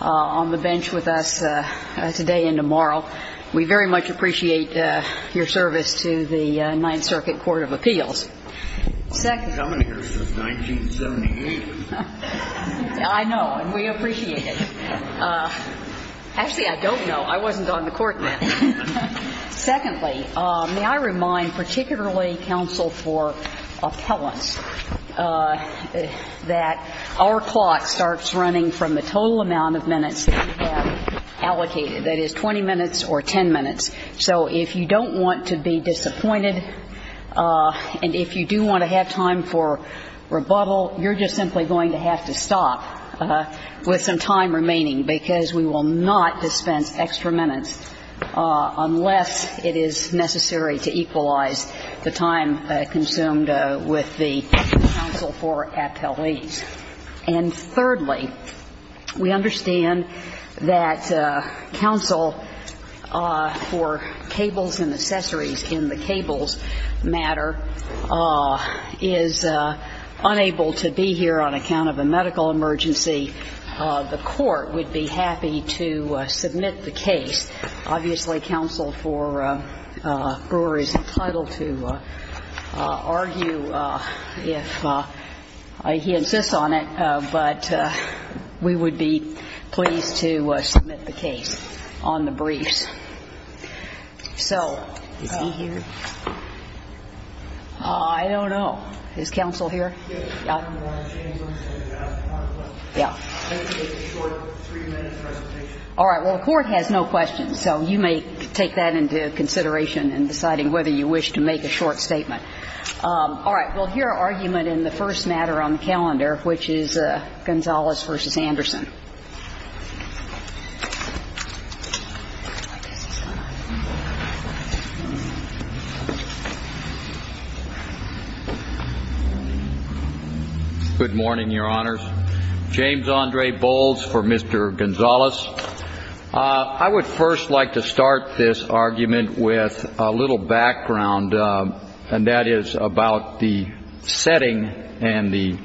on the bench with us today and tomorrow. We very much appreciate your service to the Ninth Circuit Court of Appeals. I've been coming here since 1978. I know, and we appreciate it. Actually, I don't know. I wasn't on the court then. Secondly, may I remind particularly counsel for appellants that our clock starts running from the total amount of minutes that we have allocated, that is 20 minutes or 10 minutes. So if you don't want to be disappointed and if you do want to have time for rebuttal, you're just simply going to have to stop with some time remaining because we will not dispense extra minutes unless it is necessary to equalize the time consumed with the counsel for appellees. And thirdly, we understand that counsel for cables and accessories in the cables matter is unable to be here on account of a medical emergency. The court would be happy to submit the case. Obviously, counsel for Brewer is entitled to argue if he insists on it, but we would be pleased to submit the case on the briefs. So is he here? I don't know. Is counsel here? All right. Well, the court has no questions, so you may take that into consideration in deciding whether you wish to make a short statement. All right. We'll hear argument in the first matter on the calendar, which is Gonzales v. Anderson. Good morning, Your Honors. James Andre Bowles for Mr. Gonzales. I would first like to start this argument with a little background, and that is about the setting and the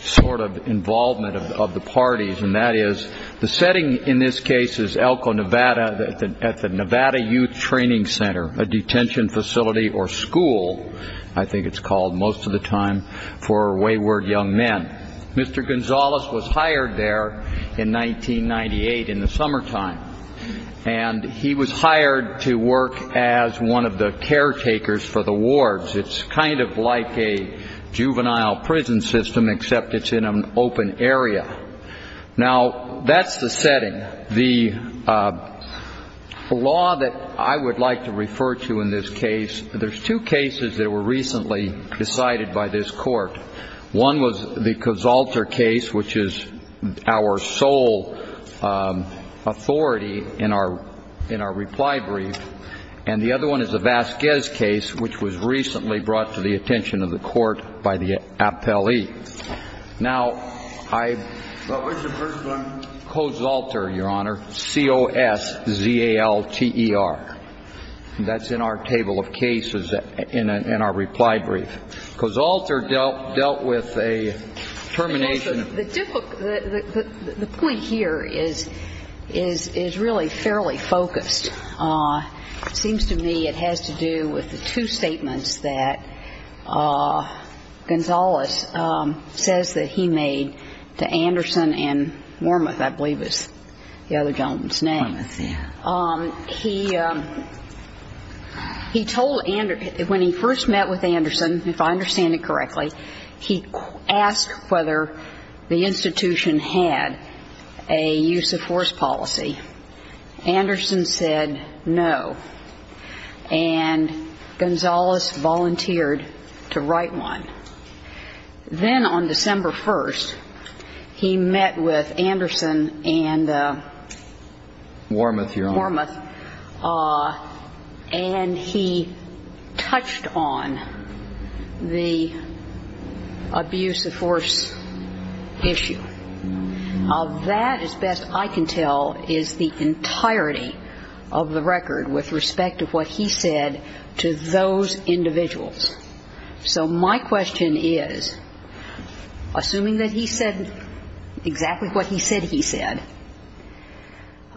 sort of involvement of the parties, and that is the setting in this case is Elko, Nevada, at the Nevada Youth Training Center, a detention facility or school, I think it's called most of the time, for wayward young men. Mr. Gonzales was hired there in 1998 in the summertime, and he was hired to work as one of the caretakers for the wards. It's kind of like a juvenile prison system, except it's in an open area. Now, that's the setting. The law that I would like to refer to in this case, there's two cases that were recently decided by this court. One was the Kozalter case, which is our sole authority in our reply brief, and the other one is the Vasquez case, which was recently brought to the attention of the court by the appellee. Now, Kozalter, Your Honor, C-O-S-Z-A-L-T-E-R. That's in our table of cases in our reply brief. Kozalter dealt with a termination of- The point here is really fairly focused. It seems to me it has to do with the two statements that Gonzales says that he made to Anderson and Wormuth, I believe is the other gentleman's name. Wormuth, yeah. He told Anderson, when he first met with Anderson, if I understand it correctly, he asked whether the institution had a use-of-force policy. Anderson said no, and Gonzales volunteered to write one. Then on December 1st, he met with Anderson and- Wormuth, Your Honor. Wormuth, and he touched on the abuse-of-force issue. That, as best I can tell, is the entirety of the record with respect to what he said to those individuals. So my question is, assuming that he said exactly what he said he said,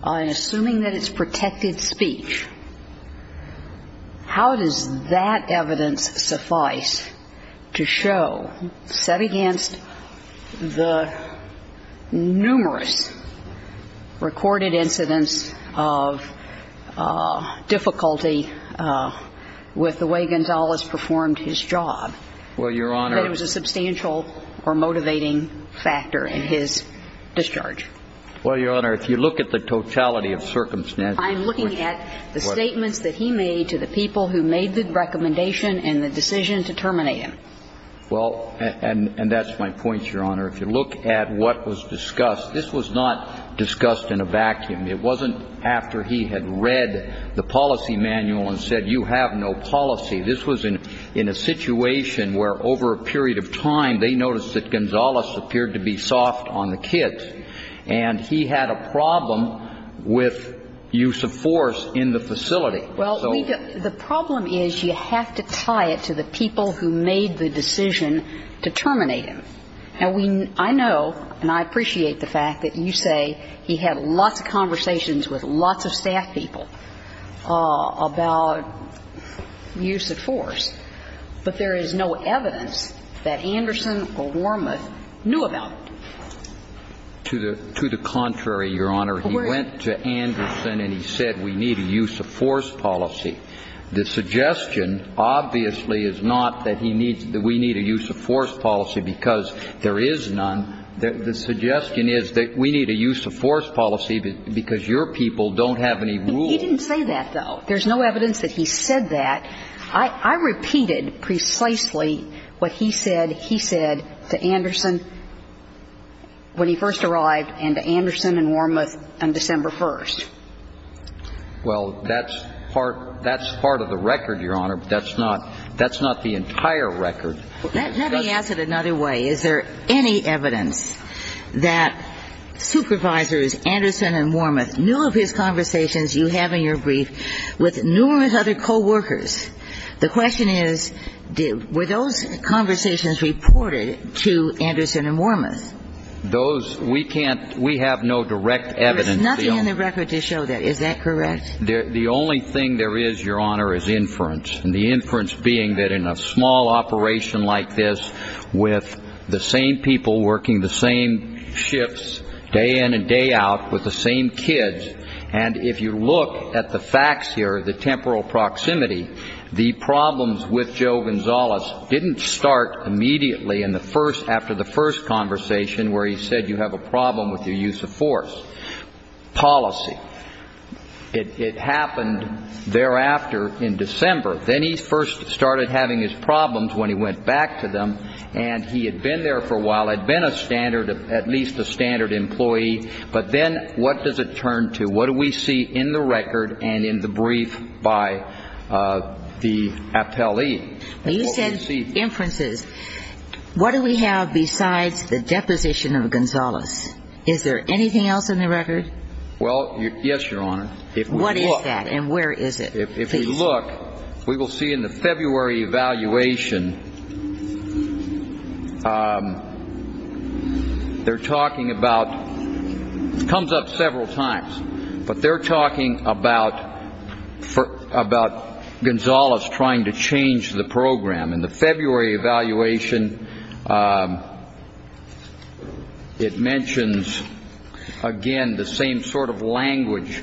and assuming that it's protected speech, how does that evidence suffice to show, set against the numerous recorded incidents of difficulty with the way Gonzales performed his job, that it was a substantial or motivating factor in his discharge? Well, Your Honor, if you look at the totality of circumstances- I'm looking at the statements that he made to the people who made the recommendation and the decision to terminate him. Well, and that's my point, Your Honor. If you look at what was discussed, this was not discussed in a vacuum. It wasn't after he had read the policy manual and said, you have no policy. This was in a situation where, over a period of time, they noticed that Gonzales appeared to be soft on the kids. And he had a problem with use of force in the facility. Well, the problem is you have to tie it to the people who made the decision to terminate him. Now, I know and I appreciate the fact that you say he had lots of conversations with lots of staff people about use of force, but there is no evidence that Anderson or Wormuth knew about it. To the contrary, Your Honor. He went to Anderson and he said, we need a use of force policy. The suggestion, obviously, is not that we need a use of force policy because there is none. The suggestion is that we need a use of force policy because your people don't have any rules. He didn't say that, though. There's no evidence that he said that. I repeated precisely what he said he said to Anderson when he first arrived and to Anderson and Wormuth on December 1st. Well, that's part of the record, Your Honor, but that's not the entire record. Let me ask it another way. Is there any evidence that Supervisors Anderson and Wormuth knew of his conversations you have in your brief with numerous other coworkers? The question is, were those conversations reported to Anderson and Wormuth? Those, we can't, we have no direct evidence. There's nothing in the record to show that. Is that correct? The only thing there is, Your Honor, is inference. And the inference being that in a small operation like this with the same people working the same shifts day in and day out with the same kids, and if you look at the facts here, the temporal proximity, the problems with Joe Gonzalez didn't start immediately in the first, after the first conversation where he said you have a problem with your use of force. Policy. It happened thereafter in December. Then he first started having his problems when he went back to them, and he had been there for a while, had been a standard, at least a standard employee. But then what does it turn to? What do we see in the record and in the brief by the appellee? You said inferences. What do we have besides the deposition of Gonzalez? Is there anything else in the record? Well, yes, Your Honor. What is that and where is it? If we look, we will see in the February evaluation they're talking about, comes up several times, but they're talking about Gonzalez trying to change the program. In the February evaluation, it mentions, again, the same sort of language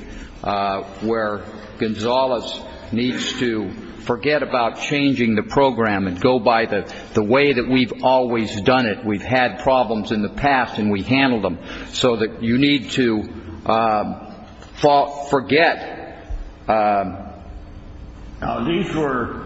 where Gonzalez needs to forget about changing the program and go by the way that we've always done it. We've had problems in the past and we've handled them so that you need to forget. Now, these were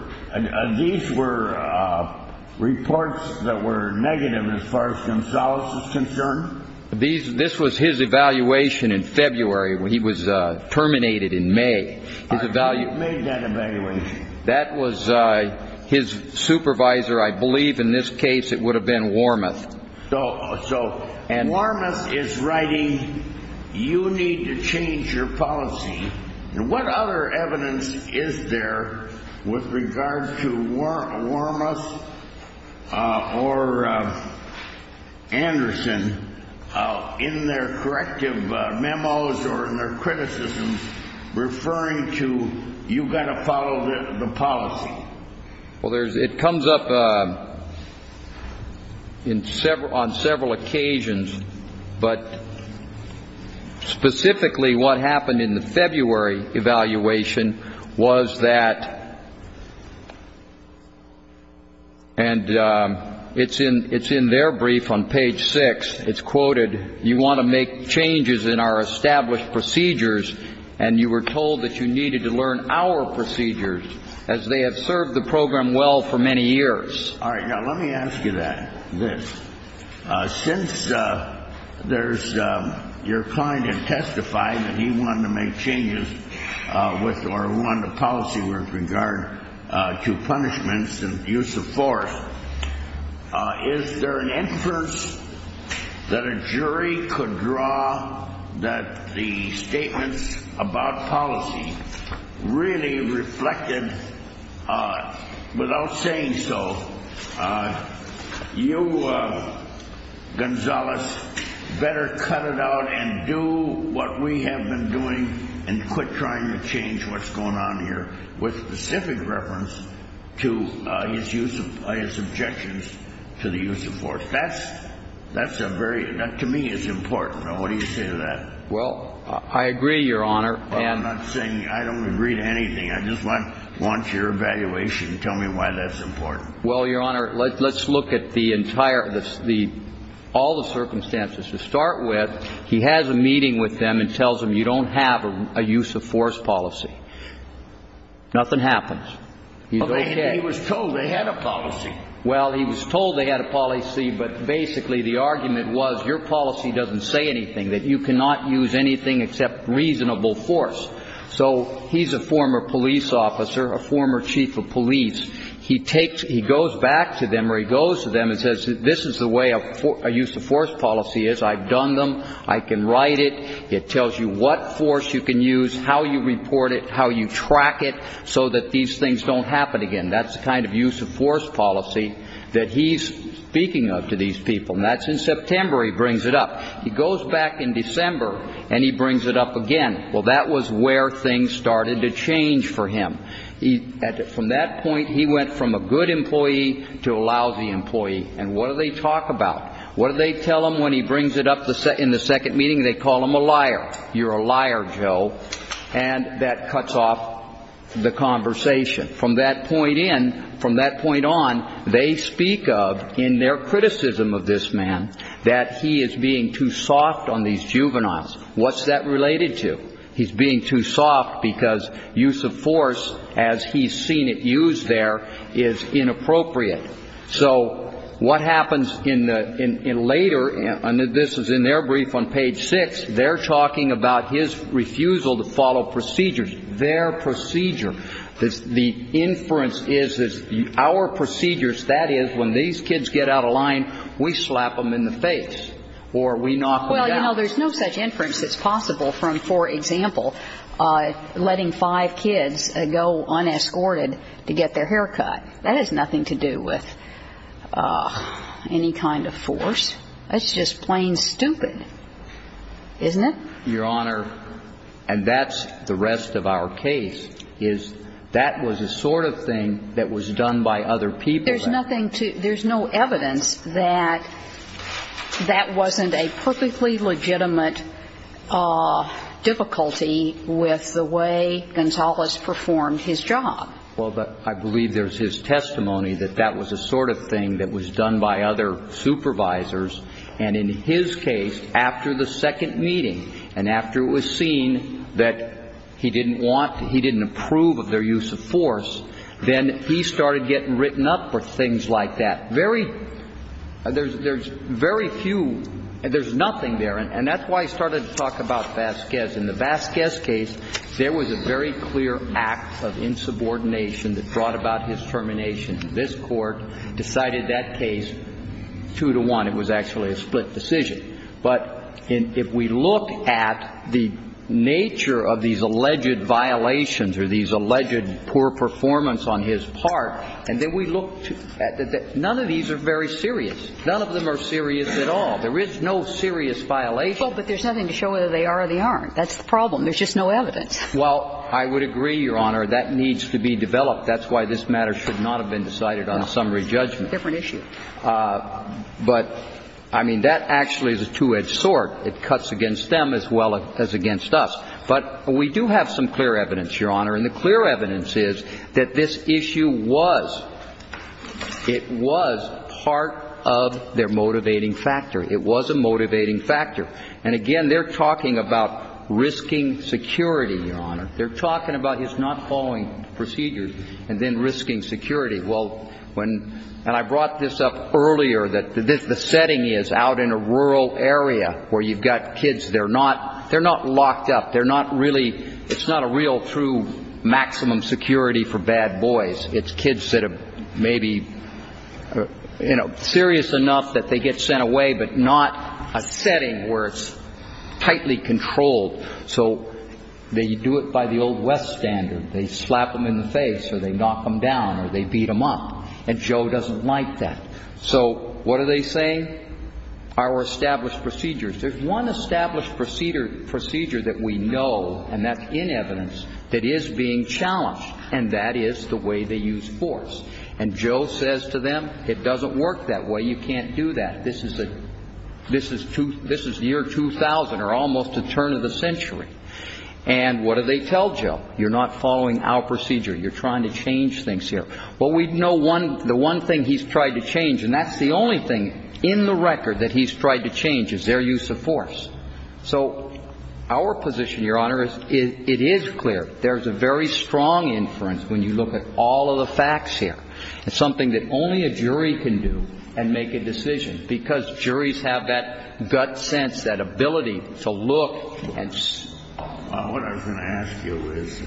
reports that were negative as far as Gonzalez is concerned? This was his evaluation in February. He was terminated in May. Who made that evaluation? That was his supervisor. I believe in this case it would have been Wormuth. So Wormuth is writing, you need to change your policy. What other evidence is there with regard to Wormuth or Anderson in their corrective memos or in their criticisms referring to you've got to follow the policy? Well, it comes up on several occasions, but specifically what happened in the February evaluation was that, and it's in their brief on page six, it's quoted, you want to make changes in our established procedures and you were told that you needed to learn our procedures, as they have served the program well for many years. All right. Now, let me ask you this. Since your client had testified that he wanted to make changes or wanted a policy with regard to punishments and use of force, is there an inference that a jury could draw that the statements about policy really reflected, without saying so, you, Gonzales, better cut it out and do what we have been doing and quit trying to change what's going on here with specific reference to his objections to the use of force? That's a very, to me, it's important. Now, what do you say to that? Well, I agree, Your Honor. I'm not saying, I don't agree to anything. I just want your evaluation. Tell me why that's important. Well, Your Honor, let's look at the entire, all the circumstances. To start with, he has a meeting with them and tells them you don't have a use of force policy. Nothing happens. He's okay. He was told they had a policy. Well, he was told they had a policy, but basically the argument was your policy doesn't say anything, that you cannot use anything except reasonable force. So he's a former police officer, a former chief of police. He goes back to them or he goes to them and says this is the way a use of force policy is. I've done them. I can write it. It tells you what force you can use, how you report it, how you track it so that these things don't happen again. That's the kind of use of force policy that he's speaking of to these people. And that's in September he brings it up. He goes back in December and he brings it up again. Well, that was where things started to change for him. From that point, he went from a good employee to a lousy employee. And what do they talk about? What do they tell him when he brings it up in the second meeting? They call him a liar. You're a liar, Joe. And that cuts off the conversation. From that point in, from that point on, they speak of in their criticism of this man that he is being too soft on these juveniles. What's that related to? He's being too soft because use of force, as he's seen it used there, is inappropriate. So what happens in later, and this is in their brief on page 6, they're talking about his refusal to follow procedures, their procedure. The inference is that our procedures, that is, when these kids get out of line, we slap them in the face or we knock them down. Well, you know, there's no such inference that's possible from, for example, letting five kids go unescorted to get their hair cut. That has nothing to do with any kind of force. That's just plain stupid, isn't it? Your Honor, and that's the rest of our case, is that was the sort of thing that was done by other people. There's nothing to, there's no evidence that that wasn't a perfectly legitimate difficulty with the way Gonzalez performed his job. Well, but I believe there's his testimony that that was the sort of thing that was done by other supervisors. And in his case, after the second meeting and after it was seen that he didn't want, he didn't approve of their use of force, then he started getting written up for things like that. Very, there's very few, there's nothing there. And that's why I started to talk about Vasquez. In the Vasquez case, there was a very clear act of insubordination that brought about his termination. This Court decided that case 2-1. It was actually a split decision. But if we look at the nature of these alleged violations or these alleged poor performance on his part, and then we look to, none of these are very serious. None of them are serious at all. There is no serious violation. Well, but there's nothing to show whether they are or they aren't. That's the problem. There's just no evidence. Well, I would agree, Your Honor, that needs to be developed. That's why this matter should not have been decided on a summary judgment. It's a different issue. But, I mean, that actually is a two-edged sword. It cuts against them as well as against us. But we do have some clear evidence, Your Honor, and the clear evidence is that this issue was, it was part of their motivating factor. It was a motivating factor. And, again, they're talking about risking security, Your Honor. They're talking about his not following procedures and then risking security. Well, when, and I brought this up earlier, that the setting is out in a rural area where you've got kids. They're not locked up. They're not really, it's not a real true maximum security for bad boys. It's kids that have maybe, you know, serious enough that they get sent away but not a setting where it's tightly controlled. So they do it by the old West standard. They slap them in the face or they knock them down or they beat them up. And Joe doesn't like that. So what are they saying? Our established procedures. There's one established procedure that we know, and that's in evidence, that is being challenged. And that is the way they use force. And Joe says to them, it doesn't work that way. You can't do that. This is the year 2000 or almost the turn of the century. And what do they tell Joe? You're not following our procedure. You're trying to change things here. Well, we know the one thing he's tried to change, and that's the only thing in the record that he's tried to change, is their use of force. So our position, Your Honor, it is clear there's a very strong inference when you look at all of the facts here. It's something that only a jury can do and make a decision, because juries have that gut sense, that ability to look. What I was going to ask you is,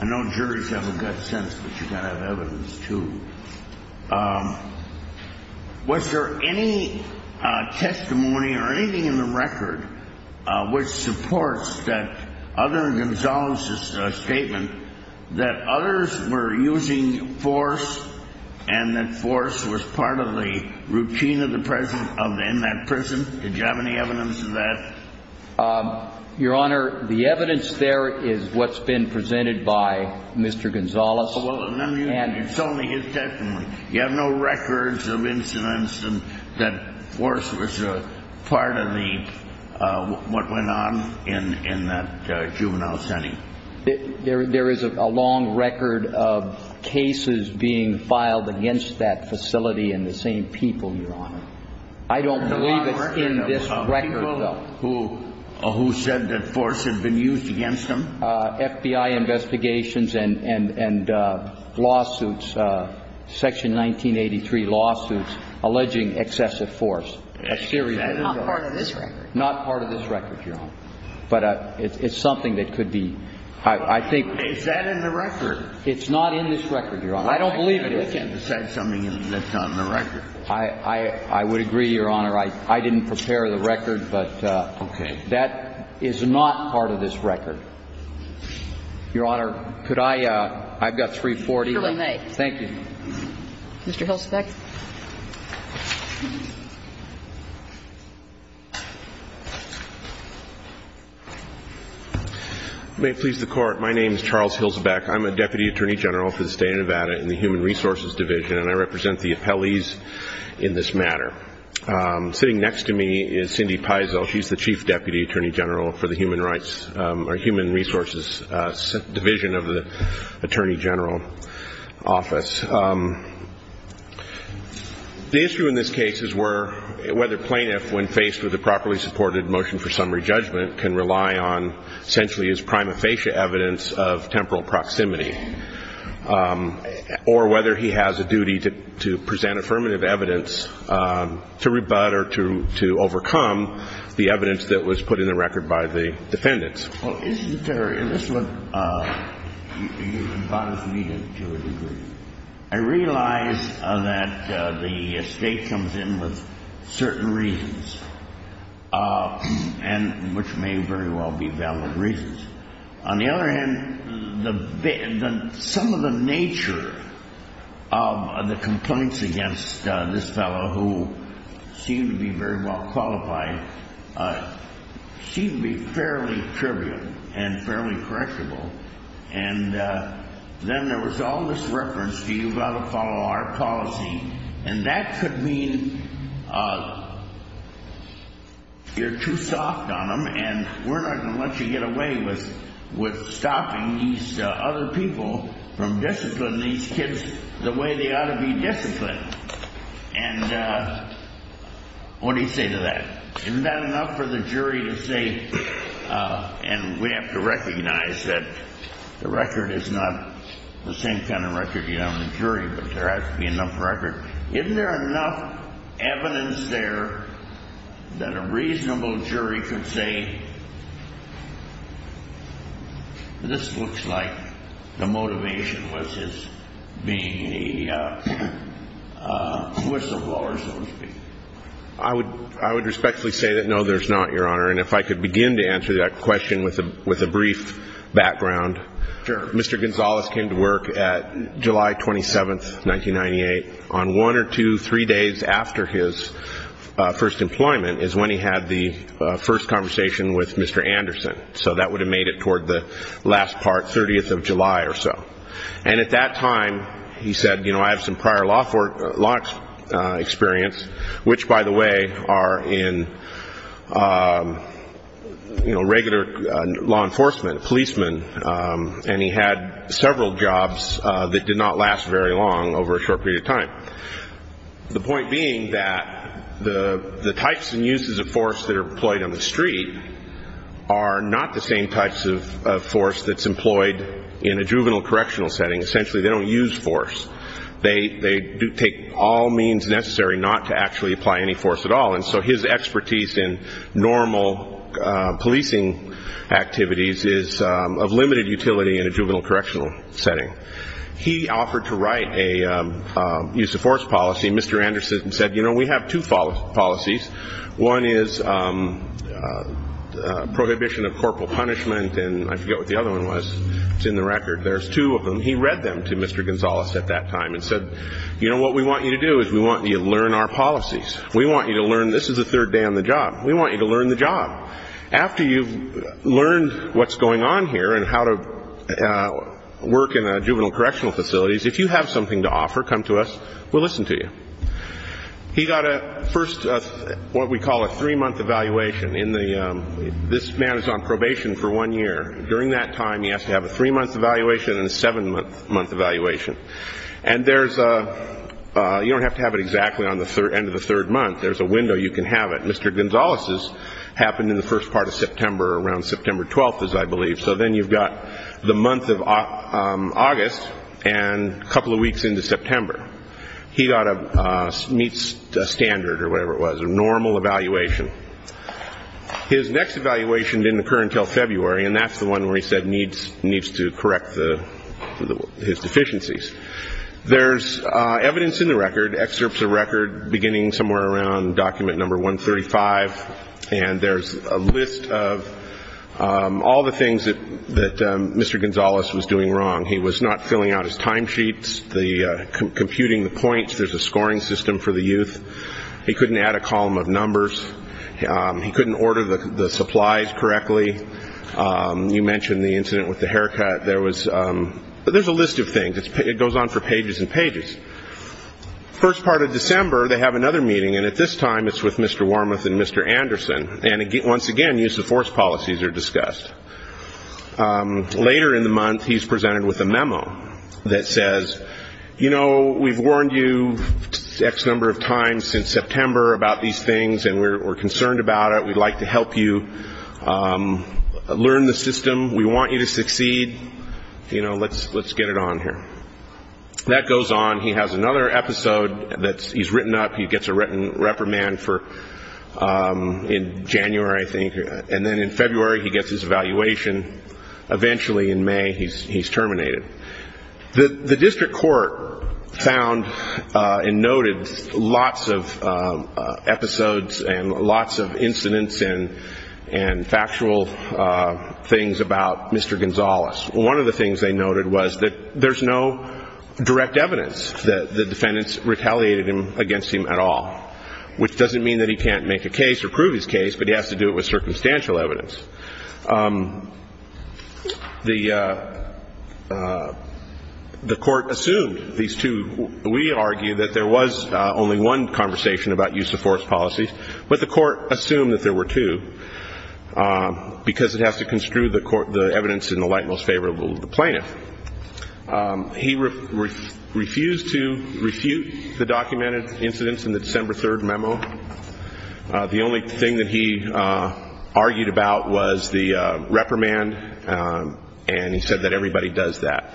I know juries have a gut sense, but you've got to have evidence, too. Was there any testimony or anything in the record which supports that other than Gonzales' statement that others were using force, and that force was part of the routine in that prison? Did you have any evidence of that? Your Honor, the evidence there is what's been presented by Mr. Gonzales. It's only his testimony. You have no records of incidents that force was part of what went on in that juvenile setting? There is a long record of cases being filed against that facility and the same people, Your Honor. I don't believe it's in this record, though. People who said that force had been used against them? FBI investigations and lawsuits, Section 1983 lawsuits, alleging excessive force. A series of those. Not part of this record? Not part of this record, Your Honor. But it's something that could be... I think... Is that in the record? It's not in this record, Your Honor. I don't believe it is. You said something that's not in the record. I would agree, Your Honor. I didn't prepare the record, but... Okay. That is not part of this record. Your Honor, could I... I've got 340. You may. Thank you. Mr. Hilsbeck. May it please the Court. My name is Charles Hilsbeck. I'm a Deputy Attorney General for the State of Nevada in the Human Resources Division, and I represent the appellees in this matter. Sitting next to me is Cindy Peisel. She's the Chief Deputy Attorney General for the Human Rights or Human Resources Division of the Attorney General Office. The issue in this case is whether plaintiff, when faced with a properly supported motion for summary judgment, can rely on essentially his prima facie evidence of temporal proximity, or whether he has a duty to present affirmative evidence to rebut or to overcome the evidence that was put in the record by the defendants. Well, isn't there... and this is what bothers me to a degree. I realize that the State comes in with certain reasons, and which may very well be valid reasons. On the other hand, some of the nature of the complaints against this fellow, who seemed to be very well qualified, seemed to be fairly trivial and fairly correctable. And then there was all this reference to you've got to follow our policy, and that could mean you're too soft on them, and we're not going to let you get away with stopping these other people from disciplining these kids the way they ought to be disciplined. And what do you say to that? Isn't that enough for the jury to say, and we have to recognize that the record is not the same kind of record you have on the jury, but there has to be enough record. Isn't there enough evidence there that a reasonable jury could say, this looks like the motivation was his being the whistleblower, so to speak? I would respectfully say that, no, there's not, Your Honor. And if I could begin to answer that question with a brief background. Sure. Mr. Gonzalez came to work at July 27th, 1998. On one or two, three days after his first employment is when he had the first conversation with Mr. Anderson. So that would have made it toward the last part, 30th of July or so. And at that time, he said, you know, I have some prior law experience, which, by the way, are in, you know, regular law enforcement, policemen. And he had several jobs that did not last very long over a short period of time. The point being that the types and uses of force that are employed on the street are not the same types of force that's employed in a juvenile correctional setting. Essentially, they don't use force. They take all means necessary not to actually apply any force at all. And so his expertise in normal policing activities is of limited utility in a juvenile correctional setting. He offered to write a use of force policy. Mr. Anderson said, you know, we have two policies. One is prohibition of corporal punishment, and I forget what the other one was. It's in the record. There's two of them. He read them to Mr. Gonzalez at that time and said, you know, what we want you to do is we want you to learn our policies. We want you to learn this is the third day on the job. We want you to learn the job. After you've learned what's going on here and how to work in juvenile correctional facilities, if you have something to offer, come to us. We'll listen to you. He got a first what we call a three-month evaluation in the this man is on probation for one year. During that time, he has to have a three-month evaluation and a seven-month evaluation. And there's a you don't have to have it exactly on the end of the third month. There's a window you can have it. Mr. Gonzalez's happened in the first part of September, around September 12th, as I believe. So then you've got the month of August and a couple of weeks into September. He got a meets standard or whatever it was, a normal evaluation. His next evaluation didn't occur until February, and that's the one where he said needs needs to correct his deficiencies. There's evidence in the record, excerpts of record beginning somewhere around document number 135. And there's a list of all the things that Mr. Gonzalez was doing wrong. He was not filling out his time sheets, computing the points. There's a scoring system for the youth. He couldn't add a column of numbers. He couldn't order the supplies correctly. You mentioned the incident with the haircut. There's a list of things. It goes on for pages and pages. First part of December, they have another meeting, and at this time it's with Mr. Wormuth and Mr. Anderson. And once again, use of force policies are discussed. Later in the month, he's presented with a memo that says, you know, we've warned you X number of times since September about these things, and we're concerned about it. We'd like to help you learn the system. We want you to succeed. You know, let's get it on here. That goes on. He has another episode that he's written up. He gets a reprimand in January, I think, and then in February he gets his evaluation. Eventually, in May, he's terminated. The district court found and noted lots of episodes and lots of incidents and factual things about Mr. Gonzalez. One of the things they noted was that there's no direct evidence that the defendants retaliated against him at all, which doesn't mean that he can't make a case or prove his case, but he has to do it with circumstantial evidence. The court assumed these two. We argue that there was only one conversation about use of force policies, but the court assumed that there were two because it has to construe the evidence in the light most favorable to the plaintiff. He refused to refute the documented incidents in the December 3rd memo. The only thing that he argued about was the reprimand, and he said that everybody does that.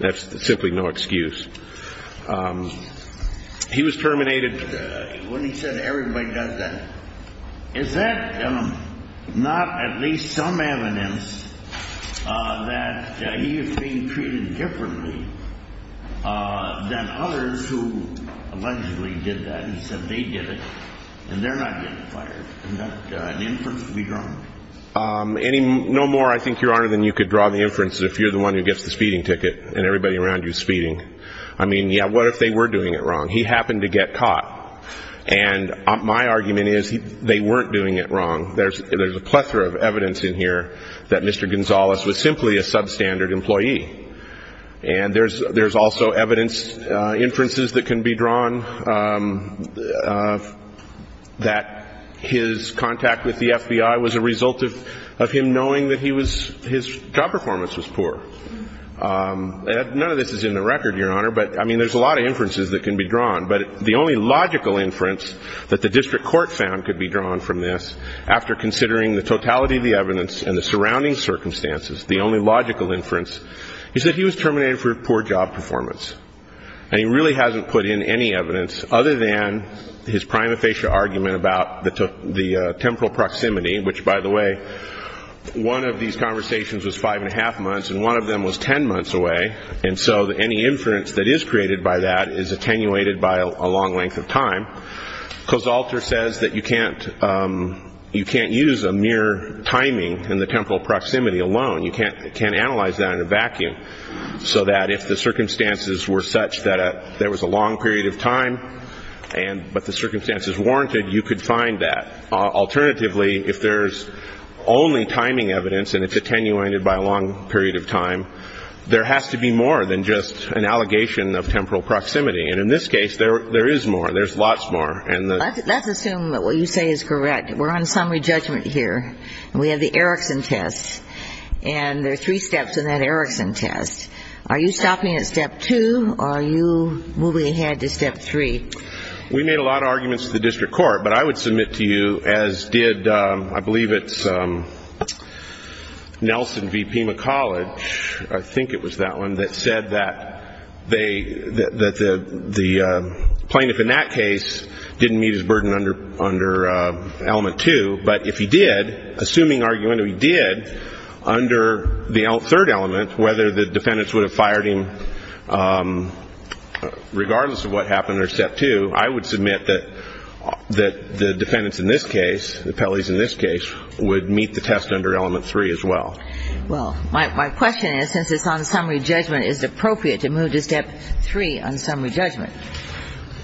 That's simply no excuse. He was terminated. When he said everybody does that, is that not at least some evidence that he is being treated differently than others who allegedly did that? He said they did it, and they're not getting fired. Is that an inference to be drawn? No more, I think, Your Honor, than you could draw the inference if you're the one who gets the speeding ticket and everybody around you is speeding. I mean, yeah, what if they were doing it wrong? He happened to get caught, and my argument is they weren't doing it wrong. There's a plethora of evidence in here that Mr. Gonzalez was simply a substandard employee, and there's also evidence, inferences that can be drawn that his contact with the FBI was a result of him knowing that his job performance was poor. None of this is in the record, Your Honor, but, I mean, there's a lot of inferences that can be drawn, but the only logical inference that the district court found could be drawn from this, after considering the totality of the evidence and the surrounding circumstances, the only logical inference, is that he was terminated for poor job performance, and he really hasn't put in any evidence other than his prima facie argument about the temporal proximity, which, by the way, one of these conversations was five and a half months, and one of them was 10 months away, and so any inference that is created by that is attenuated by a long length of time. Kosalter says that you can't use a mere timing in the temporal proximity alone. You can't analyze that in a vacuum, so that if the circumstances were such that there was a long period of time, but the circumstances warranted, you could find that. Alternatively, if there's only timing evidence and it's attenuated by a long period of time, there has to be more than just an allegation of temporal proximity, and in this case, there is more. Let's assume that what you say is correct. We're on summary judgment here, and we have the Erickson test, and there are three steps in that Erickson test. Are you stopping at step two, or are you moving ahead to step three? We made a lot of arguments to the district court, but I would submit to you, as did, I believe it's Nelson v. Pima College, I think it was that one, that said that they, that the plaintiff in that case didn't meet his burden under element two, but if he did, assuming argumentatively he did, under the third element, whether the defendants would have fired him regardless of what happened or step two, I would submit that the defendants in this case, the Pelleys in this case, would meet the test under element three as well. Well, my question is, since it's on summary judgment, is it appropriate to move to step three on summary judgment?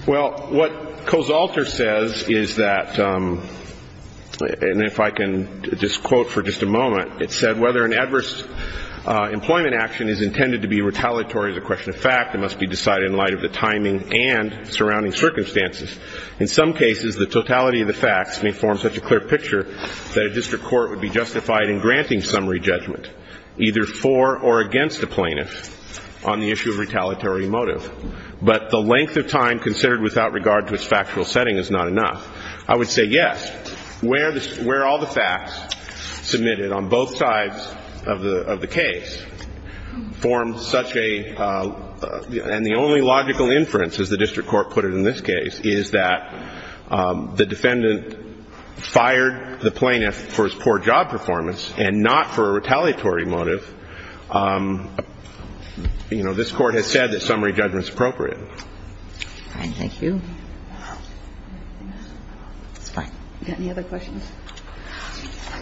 Well, what Kosalter says is that, and if I can just quote for just a moment, it said, whether an adverse employment action is intended to be retaliatory as a question of fact, it must be decided in light of the timing and surrounding circumstances. In some cases, the totality of the facts may form such a clear picture that a district court would be justified in granting summary judgment either for or against a plaintiff on the issue of retaliatory motive, but the length of time considered without regard to its factual setting is not enough. I would say yes. Where all the facts submitted on both sides of the case form such a, and the only logical inference, as the district court put it in this case, is that the defendant fired the plaintiff for his poor job performance and not for a retaliatory motive. You know, this Court has said that summary judgment is appropriate. All right. Thank you. That's fine. Any other questions?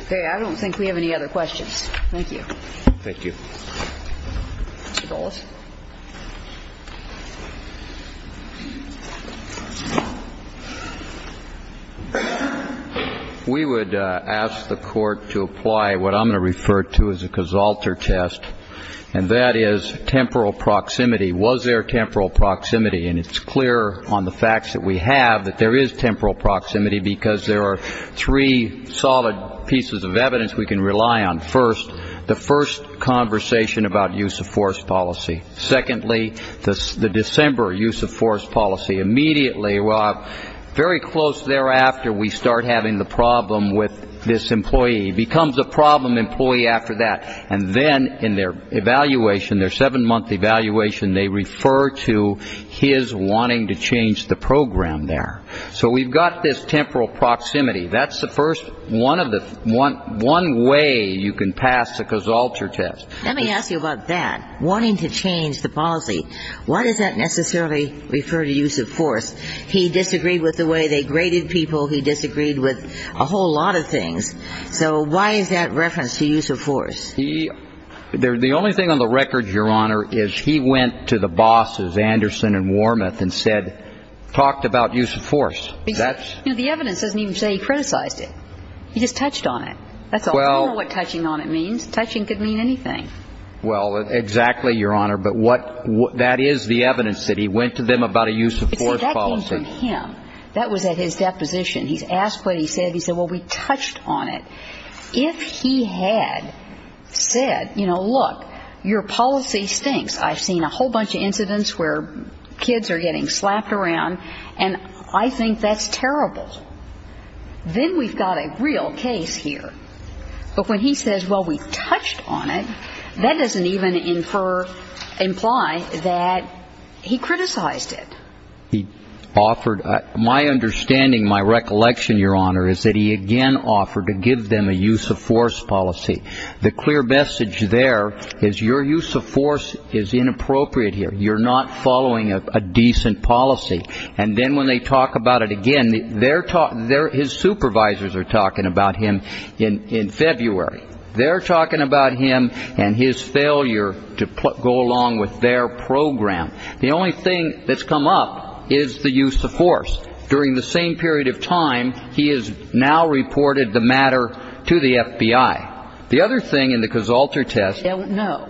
Okay. I don't think we have any other questions. Thank you. Thank you. Mr. Golas. We would ask the Court to apply what I'm going to refer to as a Casalter test, and that is temporal proximity. Was there temporal proximity? And it's clear on the facts that we have that there is temporal proximity because there are three solid pieces of evidence we can rely on. First, the first conversation about use of force policy. Secondly, the December use of force policy. Immediately, very close thereafter, we start having the problem with this employee. He becomes a problem employee after that, and then in their evaluation, their seven-month evaluation, they refer to his wanting to change the program there. So we've got this temporal proximity. That's the first one of the one way you can pass the Casalter test. Let me ask you about that, wanting to change the policy. Why does that necessarily refer to use of force? He disagreed with the way they graded people. He disagreed with a whole lot of things. So why is that reference to use of force? The only thing on the record, Your Honor, is he went to the bosses, Anderson and Wormuth, and said, talked about use of force. You know, the evidence doesn't even say he criticized it. He just touched on it. That's all. I don't know what touching on it means. Touching could mean anything. Well, exactly, Your Honor, but that is the evidence that he went to them about a use of force policy. That came from him. That was at his deposition. He's asked what he said. He said, well, we touched on it. If he had said, you know, look, your policy stinks. I've seen a whole bunch of incidents where kids are getting slapped around, and I think that's terrible. Then we've got a real case here. But when he says, well, we touched on it, that doesn't even imply that he criticized it. He offered my understanding, my recollection, Your Honor, is that he again offered to give them a use of force policy. The clear message there is your use of force is inappropriate here. You're not following a decent policy. And then when they talk about it again, his supervisors are talking about him in February. They're talking about him and his failure to go along with their program. The only thing that's come up is the use of force. During the same period of time, he has now reported the matter to the FBI. The other thing in the Casalter test. No.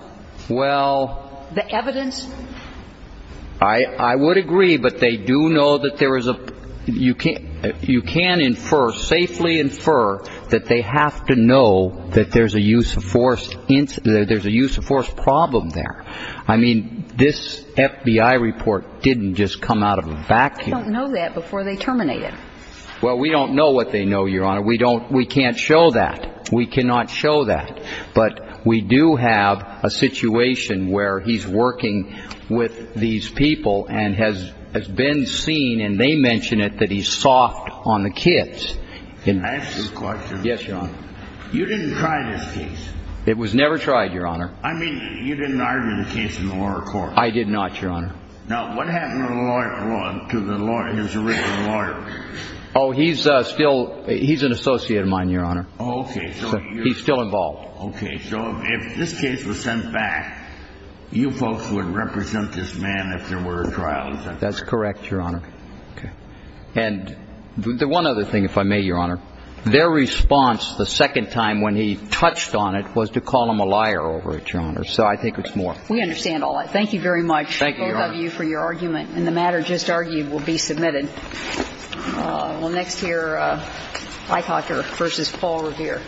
Well. The evidence. I would agree. But they do know that there is a you can you can infer safely infer that they have to know that there's a use of force. There's a use of force problem there. I mean, this FBI report didn't just come out of a vacuum. I don't know that before they terminate it. Well, we don't know what they know, Your Honor. We don't we can't show that. We cannot show that. But we do have a situation where he's working with these people and has been seen. And they mention it that he's soft on the kids. Can I ask you a question? Yes, Your Honor. You didn't try this case. It was never tried, Your Honor. I mean, you didn't argue the case in the lower court. I did not, Your Honor. Now, what happened to the lawyer to the lawyer, his original lawyer? Oh, he's still he's an associate of mine, Your Honor. Oh, OK. He's still involved. OK. So if this case was sent back, you folks would represent this man if there were a trial. That's correct, Your Honor. OK. And the one other thing, if I may, Your Honor, their response the second time when he touched on it was to call him a liar over it, Your Honor. So I think it's more. We understand all that. Thank you very much. Thank you, Your Honor. Both of you for your argument. And the matter just argued will be submitted. Well, next here, Eichacher versus Paul Revere.